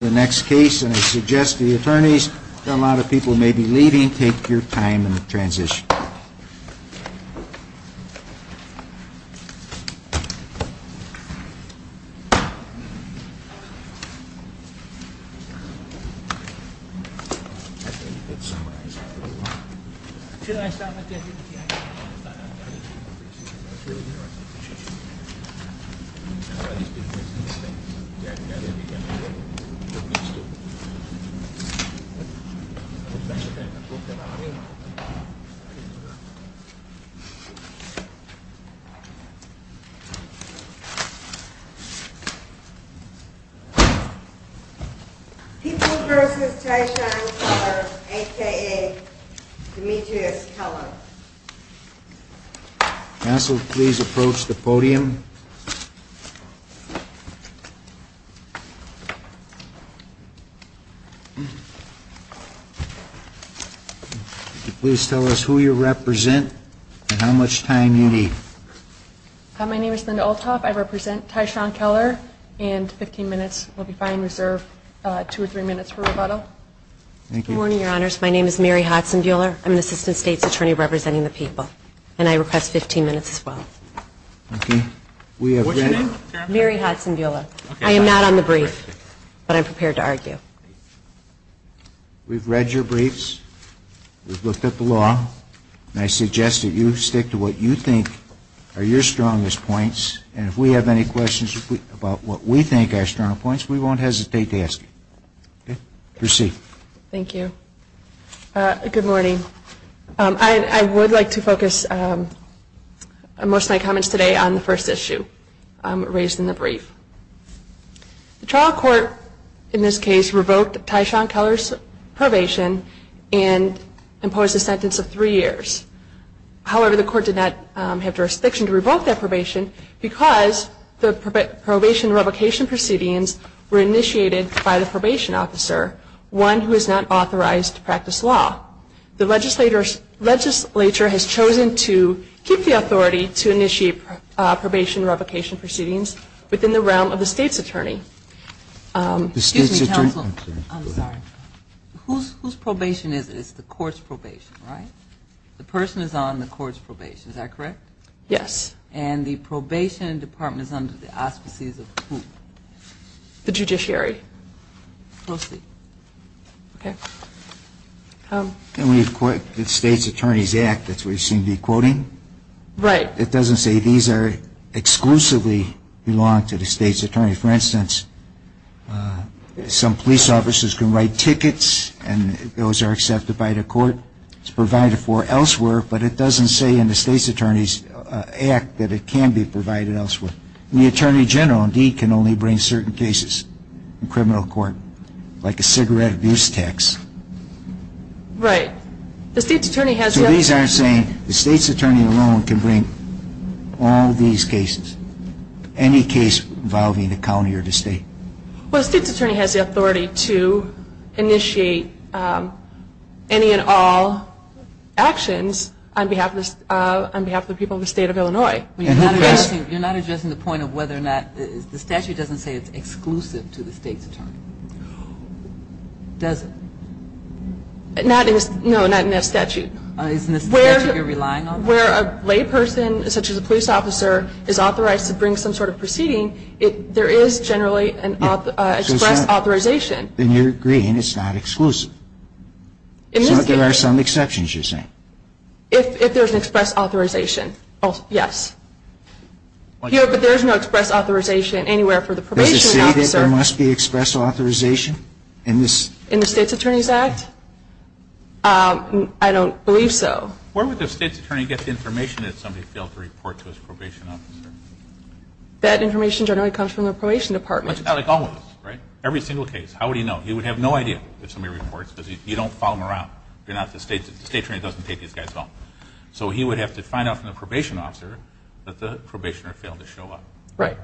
the next case and I suggest to the attorneys that a lot of people may be leaving, take your time in the transition. People v. Tyshawn Keller a.k.a. Demetrius Keller. Counsel, please approach the podium. Please tell us who you represent and how much time you need. My name is Linda Olthoff. I represent Tyshawn Keller and 15 minutes will be fine reserved, two or three minutes for rebuttal. Good morning, your honors. My name is Mary Hodson-Buehler. I'm an assistant state's attorney representing the people. And I request 15 minutes as well. What's your name? Mary Hodson-Buehler. I am not on the brief, but I'm prepared to argue. We've read your briefs. We've looked at the law. And I suggest that you stick to what you think are your strongest points. And if we have any questions about what we think are strong points, we won't hesitate to ask you. Proceed. Thank you. Good morning. I would like to focus most of my comments today on the first issue raised in the brief. The trial court in this case revoked Tyshawn Keller's probation and imposed a sentence of three years. However, the court did not have jurisdiction to revoke that probation because the probation revocation proceedings were initiated by the probation officer, one who is not authorized to practice law. The legislature has chosen to keep the authority to initiate probation revocation proceedings within the realm of the state's attorney. Excuse me, counsel. I'm sorry. Whose probation is it? It's the court's probation, right? The person is on the court's probation. Is that correct? Yes. And the probation department is under the auspices of who? The judiciary. We'll see. Okay. And we've quoted the state's attorney's act. That's what you seem to be quoting. Right. It doesn't say these exclusively belong to the state's attorney. For instance, some police officers can write tickets and those are accepted by the court. It's provided for elsewhere, but it doesn't say in the state's attorney's act that it can be provided elsewhere. The attorney general, indeed, can only bring certain cases in criminal court, like a cigarette abuse tax. Right. So these aren't saying the state's attorney alone can bring all these cases, any case involving the county or the state. Well, the state's attorney has the authority to initiate any and all actions on behalf of the people of the state of Illinois. You're not addressing the point of whether or not the statute doesn't say it's exclusive to the state's attorney, does it? No, not in that statute. Isn't the statute you're relying on? Where a lay person, such as a police officer, is authorized to bring some sort of proceeding, there is generally an express authorization. Then you're agreeing it's not exclusive. So there are some exceptions, you're saying? If there's an express authorization, yes. But there's no express authorization anywhere for the probation officer. Does it say that there must be express authorization in this? In the state's attorney's act? I don't believe so. Where would the state's attorney get the information that somebody failed to report to his probation officer? That information generally comes from the probation department. Like all of us, right? Every single case. How would he know? He would have no idea if somebody reports because you don't follow them around. The state attorney doesn't take these guys home. So he would have to find out from the probation officer that the probationer failed to show up. Right,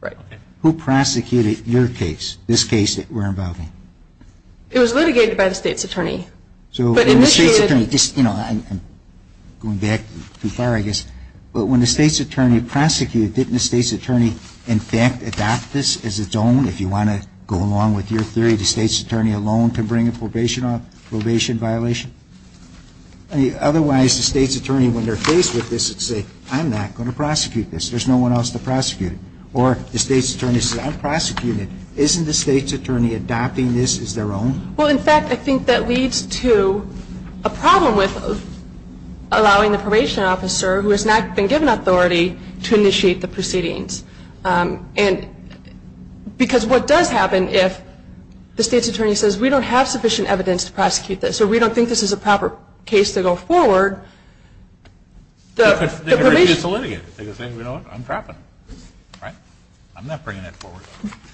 right. Who prosecuted your case, this case that we're involving? It was litigated by the state's attorney. I'm going back too far, I guess. But when the state's attorney prosecuted, didn't the state's attorney, in fact, adopt this as its own? If you want to go along with your theory, the state's attorney alone can bring a probation violation? Otherwise, the state's attorney, when they're faced with this, would say, I'm not going to prosecute this. There's no one else to prosecute it. Or the state's attorney says, I'll prosecute it. Isn't the state's attorney adopting this as their own? Well, in fact, I think that leads to a problem with allowing the probation officer, who has not been given authority, to initiate the proceedings. And because what does happen if the state's attorney says, we don't have sufficient evidence to prosecute this or we don't think this is a proper case to go forward, the probation – They can refuse to litigate it. They can say, you know what, I'm trapping them. Right? I'm not bringing it forward.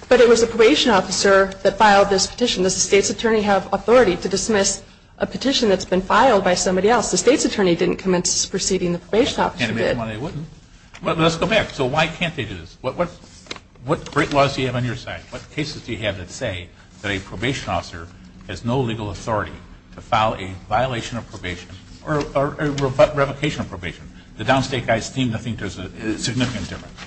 But it was a probation officer that filed this petition. Does the state's attorney have authority to dismiss a petition that's been filed by somebody else? The state's attorney didn't commence this proceeding. The probation officer did. Well, let's go back. So why can't they do this? What great laws do you have on your side? What cases do you have that say that a probation officer has no legal authority to file a violation of probation or revocation of probation? The downstate guys seem to think there's a significant difference.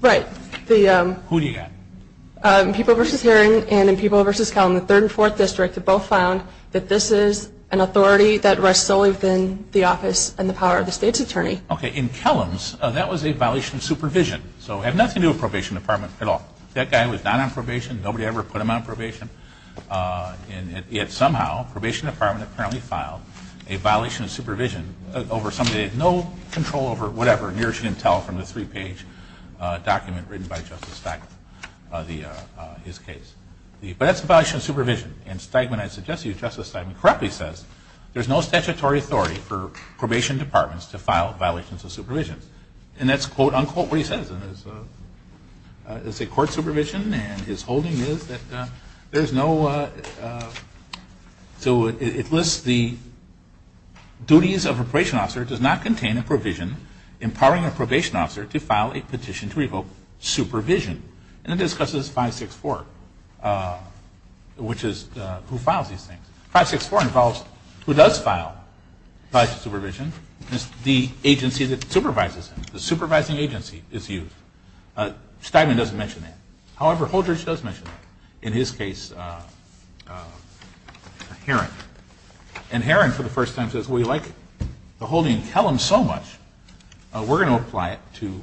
Right. Who do you got? In Peoples v. Heron and in Peoples v. Kellum, the 3rd and 4th District, have both found that this is an authority that rests solely within the office and the power of the state's attorney. Okay. In Kellum's, that was a violation of supervision. So it had nothing to do with probation department at all. That guy was not on probation. Nobody ever put him on probation. And yet somehow, probation department apparently filed a violation of supervision over somebody who had no control over whatever, near as you can tell from the three-page document written by Justice Steigman, his case. But that's a violation of supervision. And Steigman, I suggest to you, Justice Steigman, correctly says, there's no statutory authority for probation departments to file violations of supervision. And that's, quote, unquote, what he says. It's a court supervision, and his holding is that there's no – so it lists the duties of a probation officer does not contain a provision empowering a probation officer to file a petition to revoke supervision. And it discusses 564, which is who files these things. 564 involves who does file violations of supervision. It's the agency that supervises them. The supervising agency is used. Steigman doesn't mention that. However, Holdrege does mention that, in his case, Heron. And Heron, for the first time, says, well, you like the holding? Tell him so much, we're going to apply it to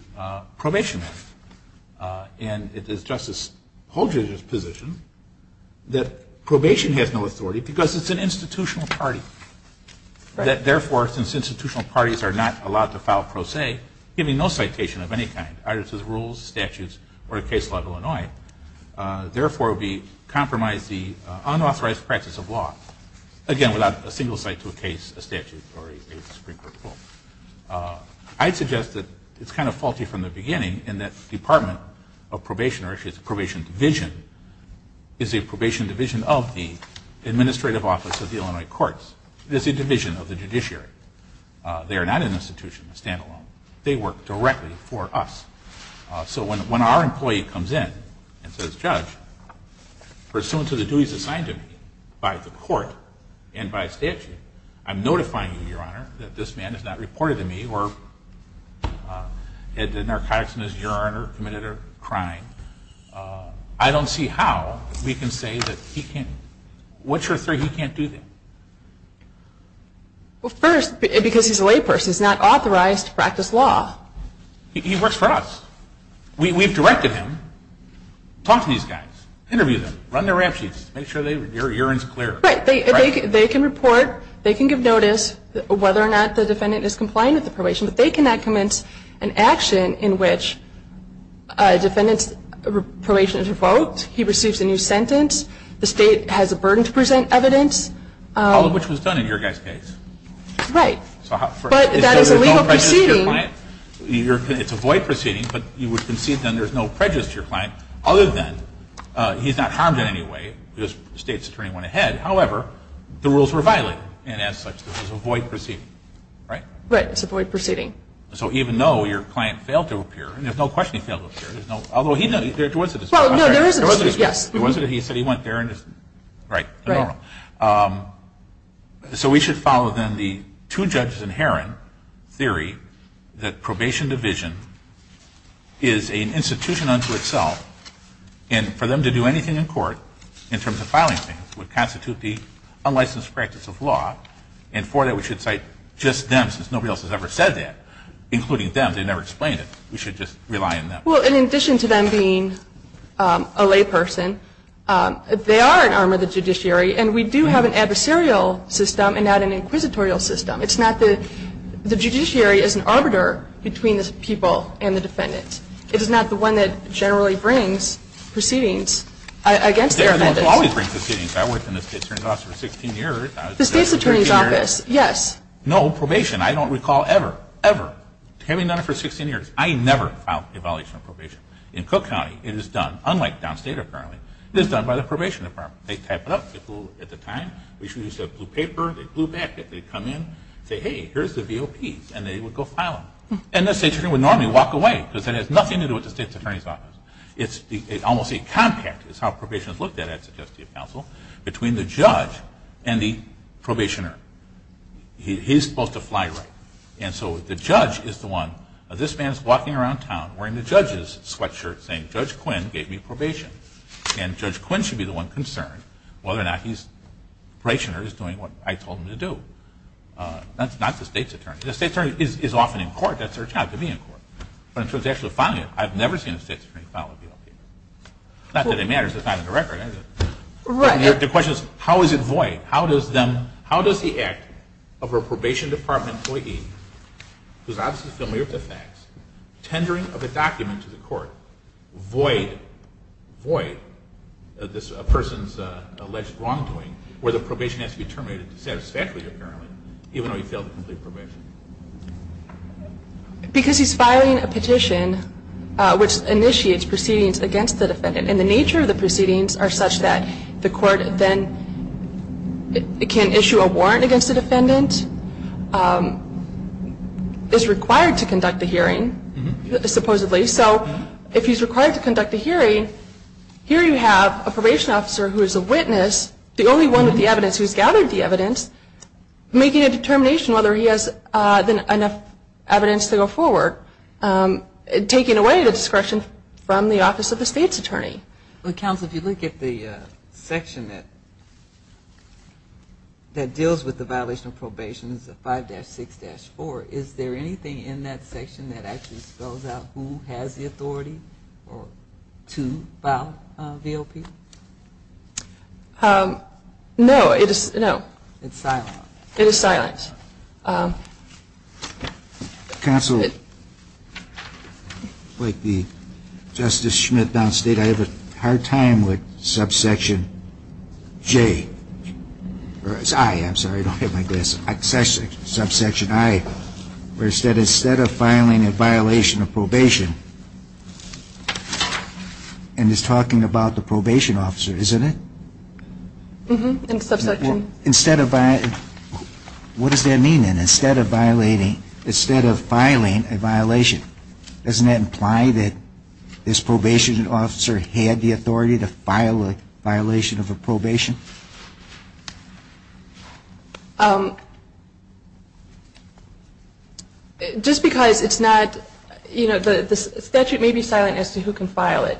probation. And it is Justice Holdrege's position that probation has no authority because it's an institutional party, that therefore, since institutional parties are not allowed to file pro se, giving no citation of any kind, either to the rules, statutes, or a case law of Illinois, therefore, we compromise the unauthorized practice of law, again, without a single cite to a case, a statute, or a Supreme Court rule. I'd suggest that it's kind of faulty from the beginning, in that the Department of Probation, or actually it's the Probation Division, is a probation division of the Administrative Office of the Illinois Courts. It is a division of the judiciary. They are not an institution, a standalone. They work directly for us. So when our employee comes in and says, Judge, pursuant to the duties assigned to me by the court and by statute, I'm notifying you, Your Honor, that this man has not reported to me or had the narcotics in his urine or committed a crime. I don't see how we can say that he can't do that. Well, first, because he's a layperson. He's not authorized to practice law. He works for us. We've directed him. Talk to these guys. Interview them. Run their ramp sheets. Make sure their urine is clear. Right. They can report. They can give notice whether or not the defendant is compliant with the probation, but they cannot commence an action in which a defendant's probation is revoked, he receives a new sentence, the state has a burden to present evidence. All of which was done in your guy's case. Right. So there's no prejudice to your client. It's a void proceeding, but you would concede then there's no prejudice to your client other than he's not harmed in any way because the state's attorney went ahead. However, the rules were violent, and as such, this is a void proceeding, right? Right. It's a void proceeding. So even though your client failed to appear, and there's no question he failed to appear, although there was a dispute. Well, no, there is a dispute, yes. There was a dispute. He said he went there and just, right, the normal. Right. So we should follow then the two judges inherent theory that probation division is an institution unto itself, and for them to do anything in court in terms of filing things would constitute the unlicensed practice of law, and for that we should cite just them since nobody else has ever said that, including them. They never explained it. We should just rely on them. Well, in addition to them being a layperson, they are an arm of the judiciary, and we do have an adversarial system and not an inquisitorial system. It's not the – the judiciary is an arbiter between the people and the defendants. It is not the one that generally brings proceedings against their defendants. They don't always bring proceedings. I worked in the state's attorney's office for 16 years. The state's attorney's office, yes. No, probation. I don't recall ever, ever having done it for 16 years. I never filed a violation of probation. In Cook County, it is done, unlike downstate apparently, it is done by the probation department. They type it up at the time. We should use a blue paper. They glue back it. They come in, say, hey, here's the VOPs, and they would go file them, and the state's attorney would normally walk away because it has nothing to do with the state's attorney's office. It's almost a compact is how probation is looked at, I'd suggest to your counsel, between the judge and the probationer. He's supposed to fly right, and so the judge is the one. This man is walking around town wearing the judge's sweatshirt saying, Judge Quinn gave me probation, and Judge Quinn should be the one concerned whether or not he's doing what I told him to do. That's not the state's attorney. The state's attorney is often in court. That's their job, to be in court. But in terms of actually filing it, I've never seen a state's attorney file a VOP. Not that it matters. It's not in the record. The question is, how is it void? How does the act of a probation department employee, who's obviously familiar with the facts, tendering of a document to the court, void this person's alleged wrongdoing, where the probation has to be terminated satisfactorily, apparently, even though he failed the complete probation? Because he's filing a petition which initiates proceedings against the defendant, and the nature of the proceedings are such that the court then can issue a warrant against the defendant, is required to conduct a hearing, supposedly. So if he's required to conduct a hearing, here you have a probation officer who is a witness, the only one with the evidence who's gathered the evidence, making a determination whether he has enough evidence to go forward, taking away the discretion from the office of the state's attorney. Counsel, if you look at the section that deals with the violation of probation, 5-6-4, is there anything in that section that actually spells out who has the authority to file a VOP? No. It's silent. It is silent. Yes. Counsel, like the Justice Schmidt downstate, I have a hard time with subsection J, or I, I'm sorry, don't hit my desk, subsection I, where it said instead of filing a violation of probation, and it's talking about the probation officer, isn't it? Mm-hmm, in subsection. Instead of, what does that mean then? Instead of violating, instead of filing a violation, doesn't that imply that this probation officer had the authority to file a violation of a probation? Just because it's not, you know, the statute may be silent as to who can file it.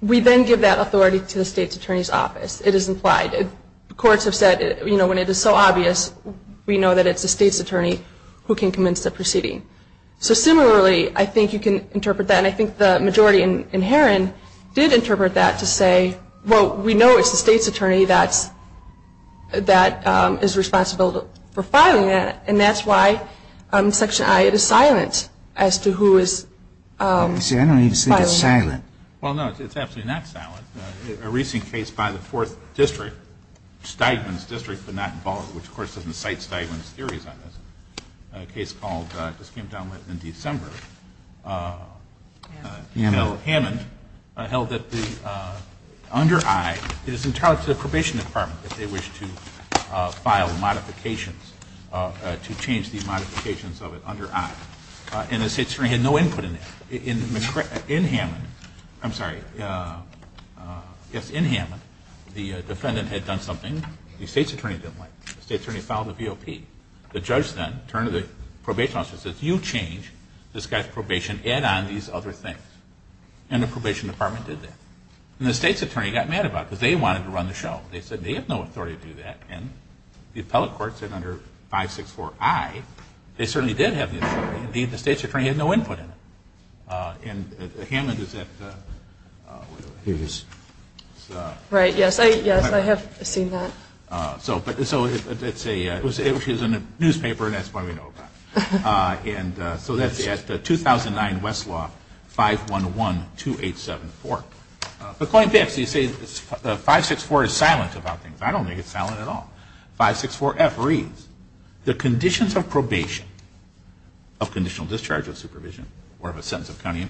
We then give that authority to the state's attorney's office. It is implied. Courts have said, you know, when it is so obvious, we know that it's the state's attorney who can commence the proceeding. So similarly, I think you can interpret that, and I think the majority in Heron did interpret that to say, well, we know it's the state's attorney that is responsible for filing that, and that's why subsection I, it is silent as to who is filing it. See, I don't need to say it's silent. Well, no, it's absolutely not silent. A recent case by the 4th District, Steigman's District, but not in Baltimore, which, of course, doesn't cite Steigman's theories on this, a case called, this came down in December, Hammond, held that the under I, it is entirely up to the probation department if they wish to file modifications, to change the modifications of it under I. And the state's attorney had no input in that. In Hammond, I'm sorry, yes, in Hammond, the defendant had done something the state's attorney didn't like. The state's attorney filed a VOP. The judge then turned to the probation officer and said, you change this guy's probation, add on these other things. And the probation department did that. And the state's attorney got mad about it because they wanted to run the show. They said they have no authority to do that. And the appellate court said under 564I, they certainly did have the authority, and the state's attorney had no input in it. And Hammond is at, what is it? Right, yes, I have seen that. So it's a, she was in a newspaper, and that's what we know about. And so that's at 2009 Westlaw, 511-2874. But going back, so you say 564 is silent about things. I don't think it's silent at all. 564F reads, the conditions of probation of conditional discharge of supervision or of a sentence of county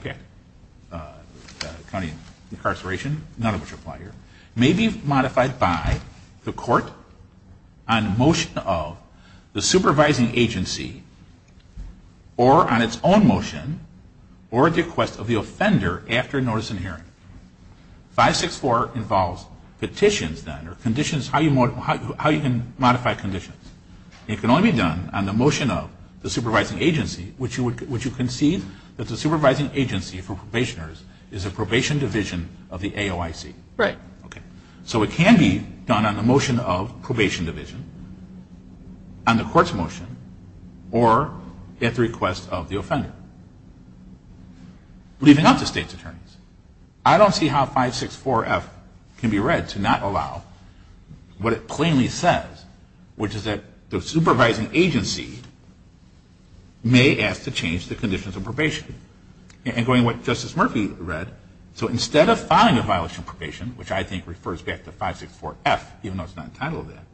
incarceration, none of which apply here, may be modified by the court on motion of the supervising agency or on its own motion or at the request of the offender after notice and hearing. 564 involves petitions then, or conditions, how you can modify conditions. It can only be done on the motion of the supervising agency, which you concede that the supervising agency for probationers is a probation division of the AOIC. Right. Okay. So it can be done on the motion of probation division, on the court's motion, or at the request of the offender. Leaving out the state's attorneys. I don't see how 564F can be read to not allow what it plainly says, which is that the supervising agency may ask to change the conditions of probation. And going to what Justice Murphy read, so instead of filing a violation of probation, which I think refers back to 564F, even though it's not entitled to that,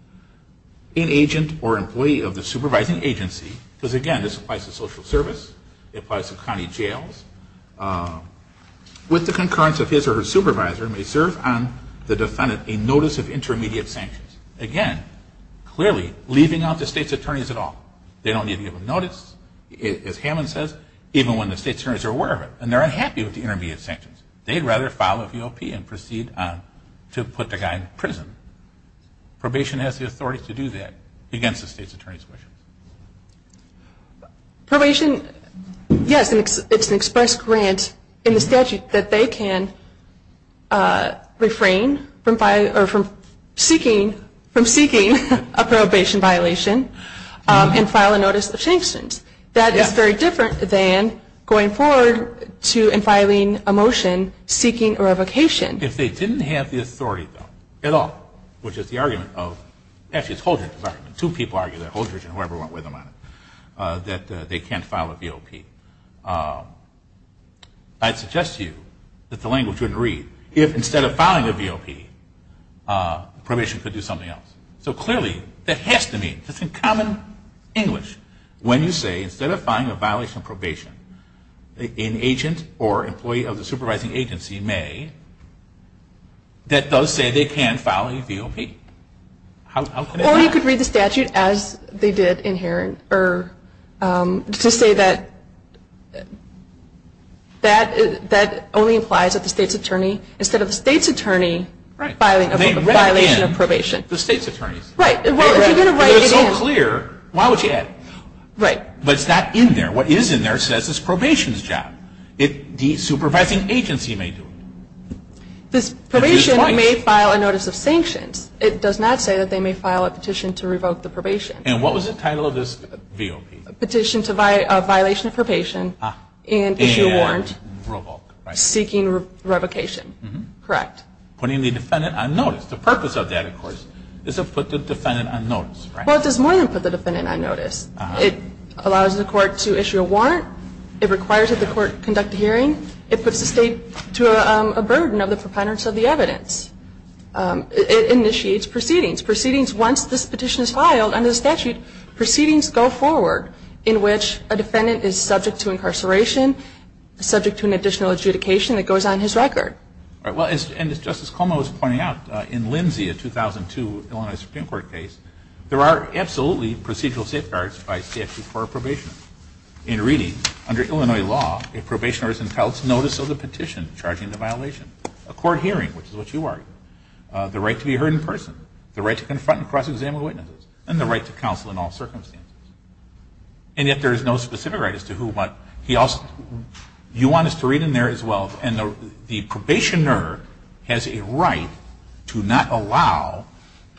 an agent or employee of the supervising agency, because, again, this applies to social service, it applies to county jails, with the concurrence of his or her supervisor, may serve on the defendant a notice of intermediate sanctions. Again, clearly, leaving out the state's attorneys at all. They don't need to give a notice, as Hammond says, even when the state's attorneys are aware of it, and they're unhappy with the intermediate sanctions. They'd rather file a VOP and proceed to put the guy in prison. Probation has the authority to do that against the state's attorney's wishes. Probation, yes, it's an express grant in the statute that they can refrain from seeking a probation violation and file a notice of sanctions. That is very different than going forward to and filing a motion seeking a revocation. If they didn't have the authority, though, at all, which is the argument of, actually it's Holdridge's argument, two people argue that, Holdridge and whoever went with him on it, that they can't file a VOP, I'd suggest to you that the language wouldn't read, if instead of filing a VOP, probation could do something else. So clearly, that has to mean, just in common English, when you say instead of filing a violation of probation, an agent or employee of the supervising agency may, that does say they can file a VOP. How could it not? Well, you could read the statute as they did in here, or to say that that only implies that the state's attorney, instead of the state's attorney, filing a violation of probation. The state's attorneys. Right. If it was so clear, why would you add? Right. But it's not in there. What is in there says it's probation's job. The supervising agency may do it. This probation may file a notice of sanctions. It does not say that they may file a petition to revoke the probation. And what was the title of this VOP? Petition to Violation of Probation and Issue a Warrant Seeking Revocation. Correct. Putting the defendant on notice. The purpose of that, of course, is to put the defendant on notice. Well, it does more than put the defendant on notice. It allows the court to issue a warrant. It requires that the court conduct a hearing. It puts the state to a burden of the preponderance of the evidence. It initiates proceedings. Proceedings, once this petition is filed under the statute, proceedings go forward in which a defendant is subject to incarceration, subject to an additional adjudication that goes on his record. All right. Well, and as Justice Cuomo was pointing out, in Lindsay, a 2002 Illinois Supreme Court case, there are absolutely procedural safeguards by statute for a probationer. In reading, under Illinois law, a probationer is entitled to notice of the petition charging the violation, a court hearing, which is what you argued, the right to be heard in person, the right to confront and cross-examine witnesses, and the right to counsel in all circumstances. And yet there is no specific right as to who but he also you want us to read in there as well, and the probationer has a right to not allow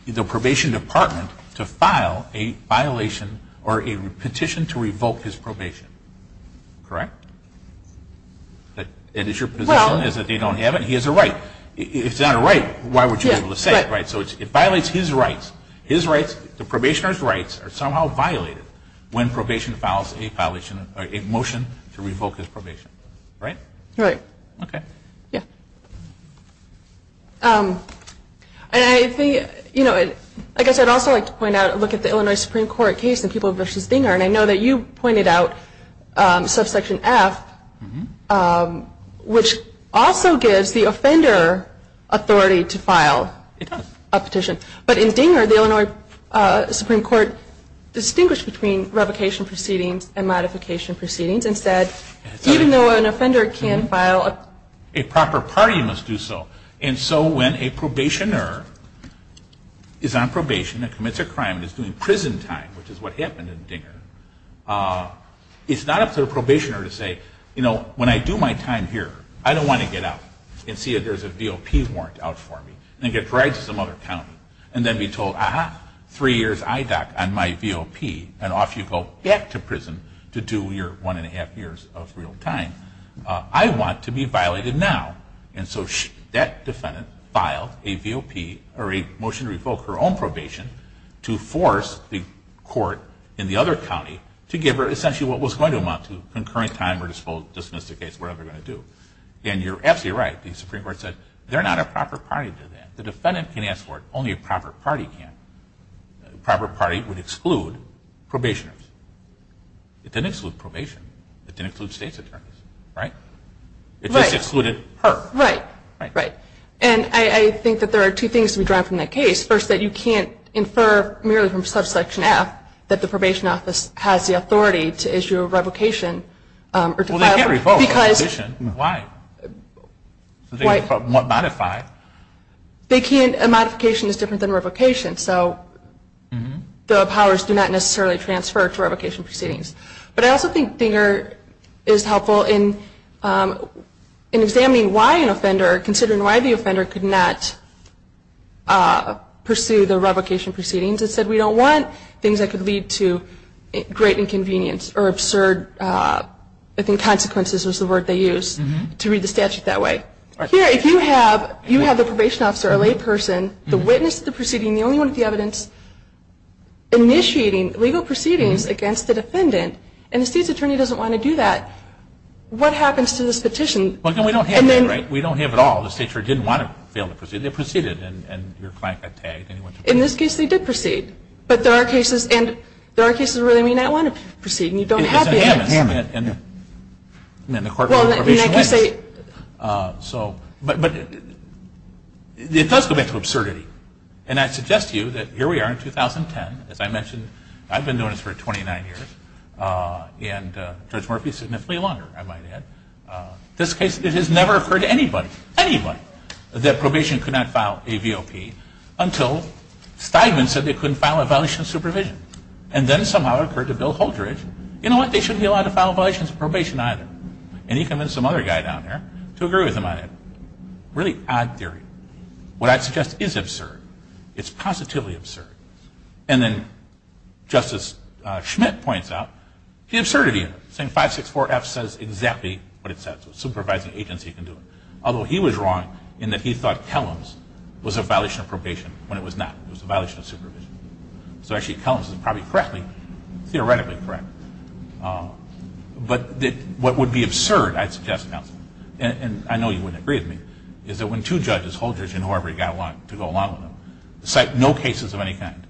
the probation department to file a violation or a petition to revoke his probation. Correct? It is your position that they don't have it? He has a right. If it's not a right, why would you be able to say it? So it violates his rights. The probationer's rights are somehow violated when probation files a motion to revoke his probation. Right? Right. Okay. Yeah. I guess I'd also like to point out and look at the Illinois Supreme Court case in People v. Dinger, and I know that you pointed out subsection F, which also gives the offender authority to file a petition. It does. But in Dinger, the Illinois Supreme Court distinguished between revocation proceedings and modification proceedings and said even though an offender can file a petition, a proper party must do so. And so when a probationer is on probation and commits a crime and is doing prison time, which is what happened in Dinger, it's not up to the probationer to say, you know, when I do my time here, I don't want to get out and see if there's a V.O.P. warrant out for me and get dragged to some other county and then be told, aha, three years IDOC on my V.O.P. and off you go back to prison to do your one and a half years of real time. I want to be violated now. And so that defendant filed a V.O.P. or a motion to revoke her own probation to force the court in the other county to give her essentially what was going to amount to, concurrent time or dismiss the case, whatever they're going to do. And you're absolutely right. The Supreme Court said they're not a proper party to that. If the defendant can ask for it, only a proper party can. A proper party would exclude probationers. It didn't exclude probation. It didn't include state's attorneys. Right? Right. It just excluded her. Right. Right. And I think that there are two things to be drawn from that case. First, that you can't infer merely from subsection F that the probation office has the authority to issue a revocation. Well, they can't revoke a provision. Why? What modified? They can't. A modification is different than revocation. So the powers do not necessarily transfer to revocation proceedings. But I also think Dinger is helpful in examining why an offender, considering why the offender could not pursue the revocation proceedings and said we don't want things that could lead to great inconvenience or absurd, I think, consequences is the word they use to read the statute that way. Here, if you have the probation officer, a layperson, the witness to the proceeding, the only one with the evidence, initiating legal proceedings against the defendant and the state's attorney doesn't want to do that, what happens to this petition? We don't have that, right? We don't have it at all. The state attorney didn't want to fail the proceedings. They proceeded and your client got tagged. In this case, they did proceed. But there are cases, and there are cases where they may not want to proceed, and you don't have the evidence. It's in Hammond. And the court ruled probation wins. But it does go back to absurdity. And I suggest to you that here we are in 2010. As I mentioned, I've been doing this for 29 years. And Judge Murphy, significantly longer, I might add. In this case, it has never occurred to anybody, anybody, that probation could not file a VOP until Stigman said they couldn't file a violation of supervision. And then somehow it occurred to Bill Holdridge, you know what, they shouldn't be allowed to file a violation of probation either. And he convinced some other guy down there to agree with him on it. Really odd theory. What I suggest is absurd. It's positively absurd. And then Justice Schmidt points out the absurdity of it, saying 564F says exactly what it says. A supervising agency can do it. Although he was wrong in that he thought Kellams was a violation of probation when it was not. It was a violation of supervision. So actually, Kellams is probably correctly, theoretically correct. But what would be absurd, I'd suggest, counsel, and I know you wouldn't agree with me, is that when two judges, Holdridge and whoever you've got to go along with them, cite no cases of any kind,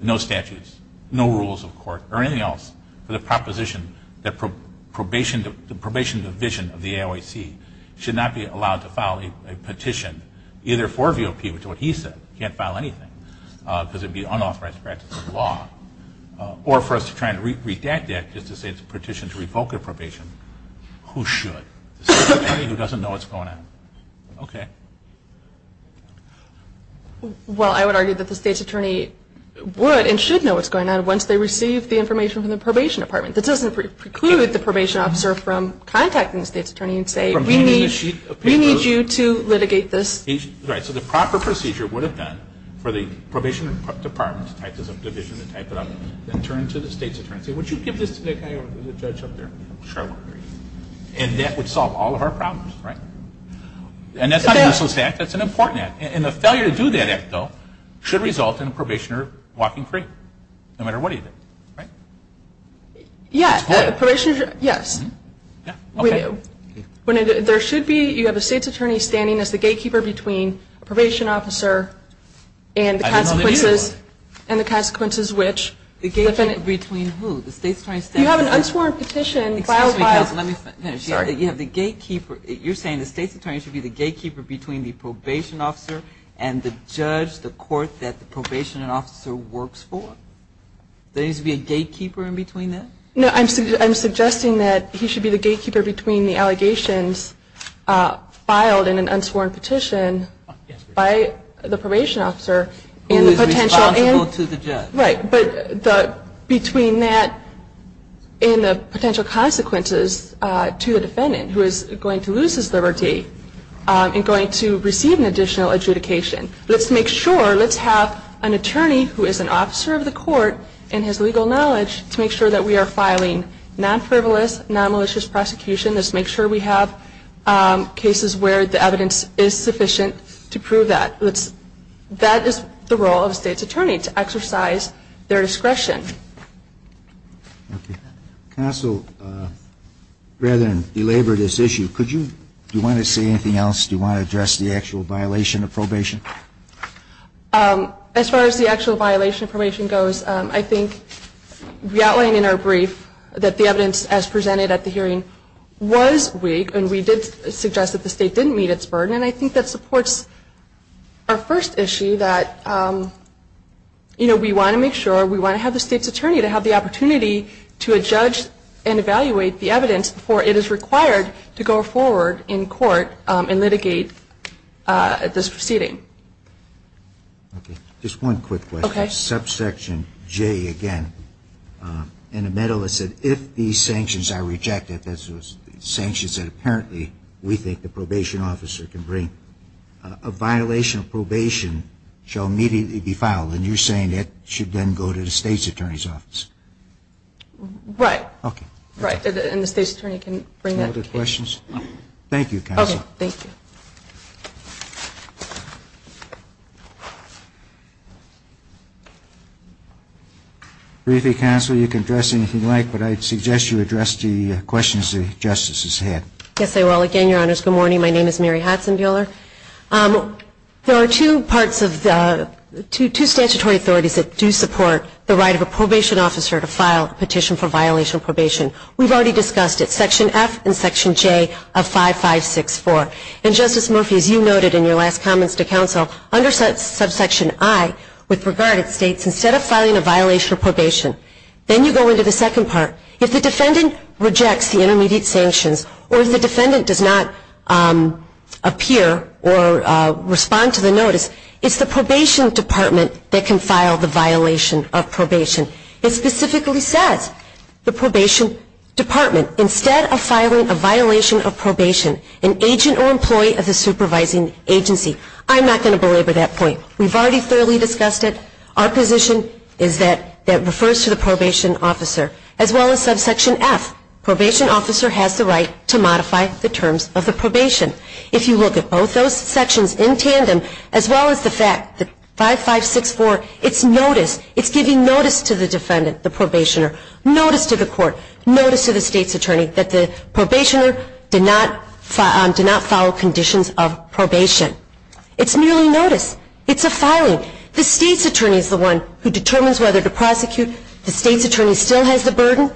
no statutes, no rules of court, or anything else, for the proposition that the probation division of the AIOC should not be allowed to file a petition either for a VOP, which is what he said, can't file anything, because it would be unauthorized practice of law, or for us to try and redact that just to say it's a petition to revoke a probation. Who should? The state's attorney who doesn't know what's going on. Okay. Well, I would argue that the state's attorney would and should know what's going on once they receive the information from the probation department. That doesn't preclude the probation officer from contacting the state's attorney and saying, we need you to litigate this. Right. So the proper procedure would have been for the probation department to type this up, division to type it up, and turn to the state's attorney and say, would you give this to the judge up there? And that would solve all of our problems, right? And that's not a useless act. That's an important act. And the failure to do that act, though, should result in a probationer walking free, no matter what he did, right? Yeah. Yes. We do. There should be you have a state's attorney standing as the gatekeeper between a probation officer I didn't know they needed one. And the consequences which. The gatekeeper between who? The state's attorney standing. You have an unsworn petition. Excuse me, guys. Let me finish. Sorry. You have the gatekeeper. You're saying the state's attorney should be the gatekeeper between the probation officer and the judge, the court that the probation officer works for? There needs to be a gatekeeper in between that? No. I'm suggesting that he should be the gatekeeper between the allegations filed in an unsworn petition by the probation officer and the potential. Who is responsible to the judge. Right. But between that and the potential consequences to the defendant who is going to lose his liberty and going to receive an additional adjudication. Let's make sure. Let's have an attorney who is an officer of the court and has legal knowledge to make sure that we are filing non-frivolous, non-malicious prosecution. Let's make sure we have cases where the evidence is sufficient to prove that. That is the role of the state's attorney, to exercise their discretion. Okay. Counsel, rather than belabor this issue, do you want to say anything else? Do you want to address the actual violation of probation? As far as the actual violation of probation goes, I think we outlined in our brief that the evidence as presented at the hearing was weak and we did suggest that the state didn't meet its burden. And I think that supports our first issue that, you know, we want to make sure, we want to have the state's attorney to have the opportunity to judge and evaluate the evidence before it is required to go forward in court and litigate this proceeding. Okay. Just one quick question. Okay. Subsection J again, in the middle it said, if these sanctions are rejected, that's the sanctions that apparently we think the probation officer can bring, a violation of probation shall immediately be filed. And you're saying that should then go to the state's attorney's office. Right. Okay. Right. And the state's attorney can bring that case. Any other questions? No. Thank you, Counsel. Okay. Thank you. Briefly, Counsel, you can address anything you'd like, but I'd suggest you address the questions the Justices had. Yes, I will. Again, Your Honors, good morning. My name is Mary Hudson Buehler. There are two parts of the, two statutory authorities that do support the right of a probation officer to file a petition for violation of probation. We've already discussed it, Section F and Section J of 5564. And, Justice Murphy, as you noted in your last comments to Counsel, under subsection I, with regard to states, instead of filing a violation of probation, then you go into the second part. If the defendant rejects the intermediate sanctions or if the defendant does not appear or respond to the notice, it's the probation department that can file the violation of probation. It specifically says the probation department, instead of filing a violation of probation, an agent or employee of the supervising agency. I'm not going to belabor that point. We've already thoroughly discussed it. Our position is that that refers to the probation officer. As well as subsection F, probation officer has the right to modify the terms of the probation. If you look at both those sections in tandem, as well as the fact that 5564, it's notice, it's giving notice to the defendant, the probationer, notice to the court, notice to the state's attorney, that the probationer did not follow conditions of probation. It's merely notice. It's a filing. The state's attorney is the one who determines whether to prosecute. The state's attorney still has the burden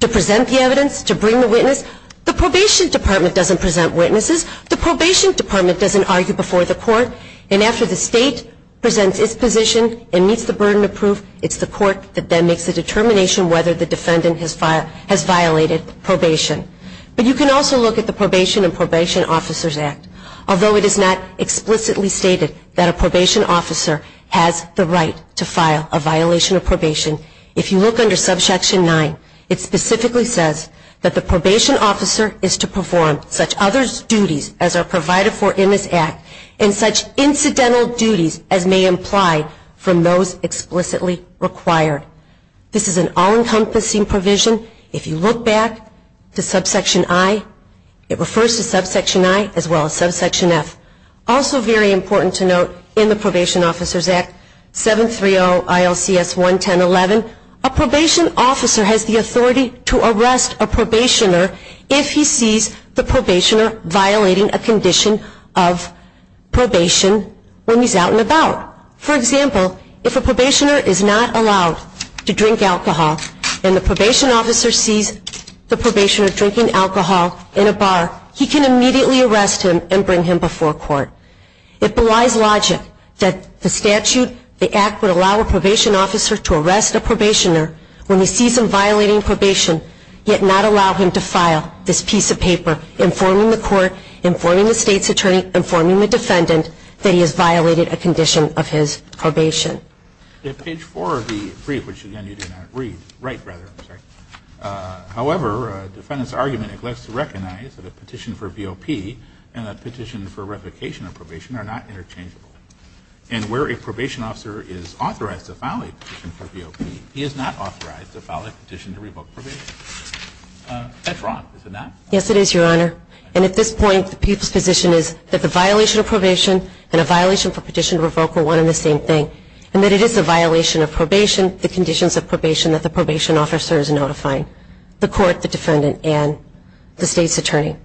to present the evidence, to bring the witness. The probation department doesn't present witnesses. The probation department doesn't argue before the court. And after the state presents its position and meets the burden of proof, it's the court that then makes the determination whether the defendant has violated probation. But you can also look at the Probation and Probation Officers Act. Although it is not explicitly stated that a probation officer has the right to file a violation of probation, if you look under Subsection 9, it specifically says that the probation officer is to perform such other duties as are provided for in this Act, and such incidental duties as may imply from those explicitly required. This is an all-encompassing provision. If you look back to Subsection I, it refers to Subsection I, as well as Subsection F. Also very important to note in the Probation Officers Act, 730 ILCS 11011, a probation officer has the authority to arrest a probationer if he sees the probationer violating a condition of probation when he's out and about. For example, if a probationer is not allowed to drink alcohol and the probation officer sees the probationer drinking alcohol in a bar, he can immediately arrest him and bring him before court. It belies logic that the statute, the Act, would allow a probation officer to arrest a probationer when he sees them violating probation, yet not allow him to file this piece of paper informing the court, informing the state's attorney, informing the defendant that he has violated a condition of his probation. Page 4 of the brief, which again you do not read, write rather, I'm sorry. However, defendant's argument neglects to recognize that a petition for VOP and a petition for replication of probation are not interchangeable. And where a probation officer is authorized to file a petition for VOP, he is not authorized to file a petition to revoke probation. That's wrong, is it not? Yes, it is, Your Honor. And at this point, the position is that the violation of probation and a violation for petition to revoke are one and the same thing. And that it is a violation of probation, the conditions of probation that the probation officer is notifying, the court, the defendant, and the state's attorney.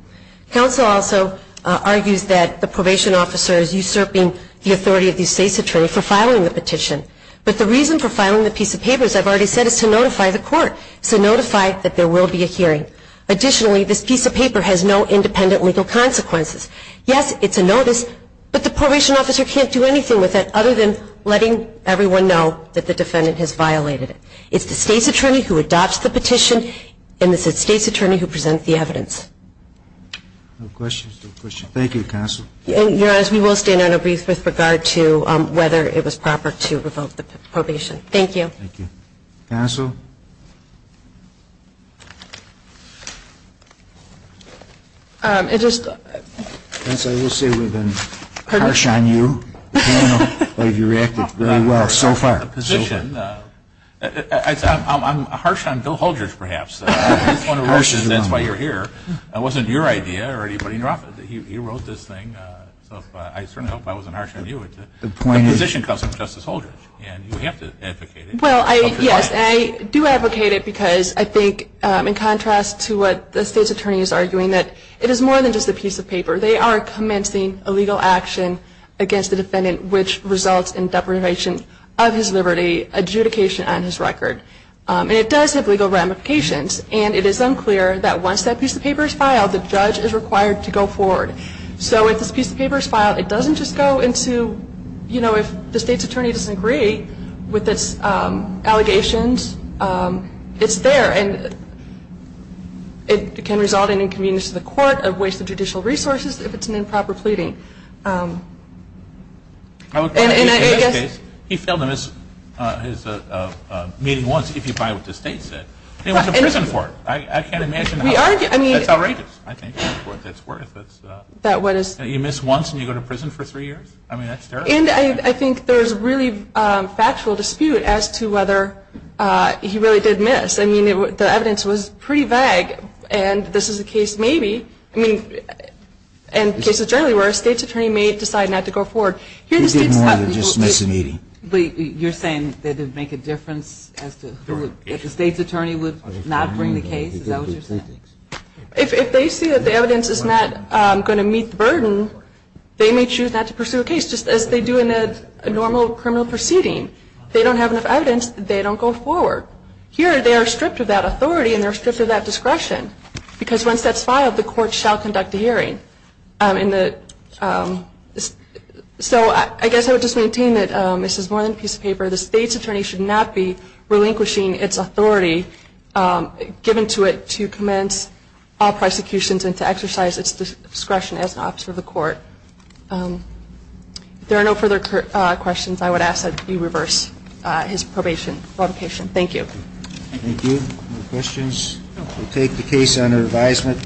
Counsel also argues that the probation officer is usurping the authority of the state's attorney for filing the petition. But the reason for filing the piece of paper, as I've already said, is to notify the court, to notify that there will be a hearing. Additionally, this piece of paper has no independent legal consequences. Yes, it's a notice, but the probation officer can't do anything with it other than letting everyone know that the defendant has violated it. It's the state's attorney who adopts the petition, and it's the state's attorney who presents the evidence. No questions. Thank you, counsel. Your Honor, we will stand on a brief with regard to whether it was proper to revoke the probation. Thank you. Thank you. Counsel? It just ---- Counsel, I will say we've been harsh on you. I don't know how you reacted. So far. I'm harsh on Bill Holdridge, perhaps. That's why you're here. It wasn't your idea or anybody else's. He wrote this thing, so I certainly hope I wasn't harsh on you. The position comes from Justice Holdridge, and you have to advocate it. Well, yes. And I do advocate it because I think, in contrast to what the state's attorney is arguing, that it is more than just a piece of paper. They are commencing a legal action against the defendant, which results in deprivation of his liberty, adjudication on his record. And it does have legal ramifications, and it is unclear that once that piece of paper is filed, the judge is required to go forward. So if this piece of paper is filed, it doesn't just go into, you know, if the state's attorney doesn't agree with its allegations, it's there. And it can result in inconvenience to the court, a waste of judicial resources, if it's an improper pleading. In this case, he failed to miss his meeting once, if you buy what the state said. He went to prison for it. I can't imagine how that's outrageous, I think, for what it's worth. You miss once and you go to prison for three years? I mean, that's terrible. And I think there's really factual dispute as to whether he really did miss. I mean, the evidence was pretty vague, and this is a case maybe, I mean, and cases generally where a state's attorney may decide not to go forward. He didn't want to dismiss a meeting. But you're saying that it would make a difference as to who would, if the state's attorney would not bring the case? Is that what you're saying? If they see that the evidence is not going to meet the burden, they may choose not to pursue a case, just as they do in a normal criminal proceeding. If they don't have enough evidence, they don't go forward. Here, they are stripped of that authority and they're stripped of that discretion, because once that's filed, the court shall conduct the hearing. So I guess I would just maintain that this is more than a piece of paper. The state's attorney should not be relinquishing its authority given to it to commence all prosecutions and to exercise its discretion as an officer of the court. If there are no further questions, I would ask that you reverse his probation provocation. Thank you. Thank you. No questions? We'll take the case under advisement.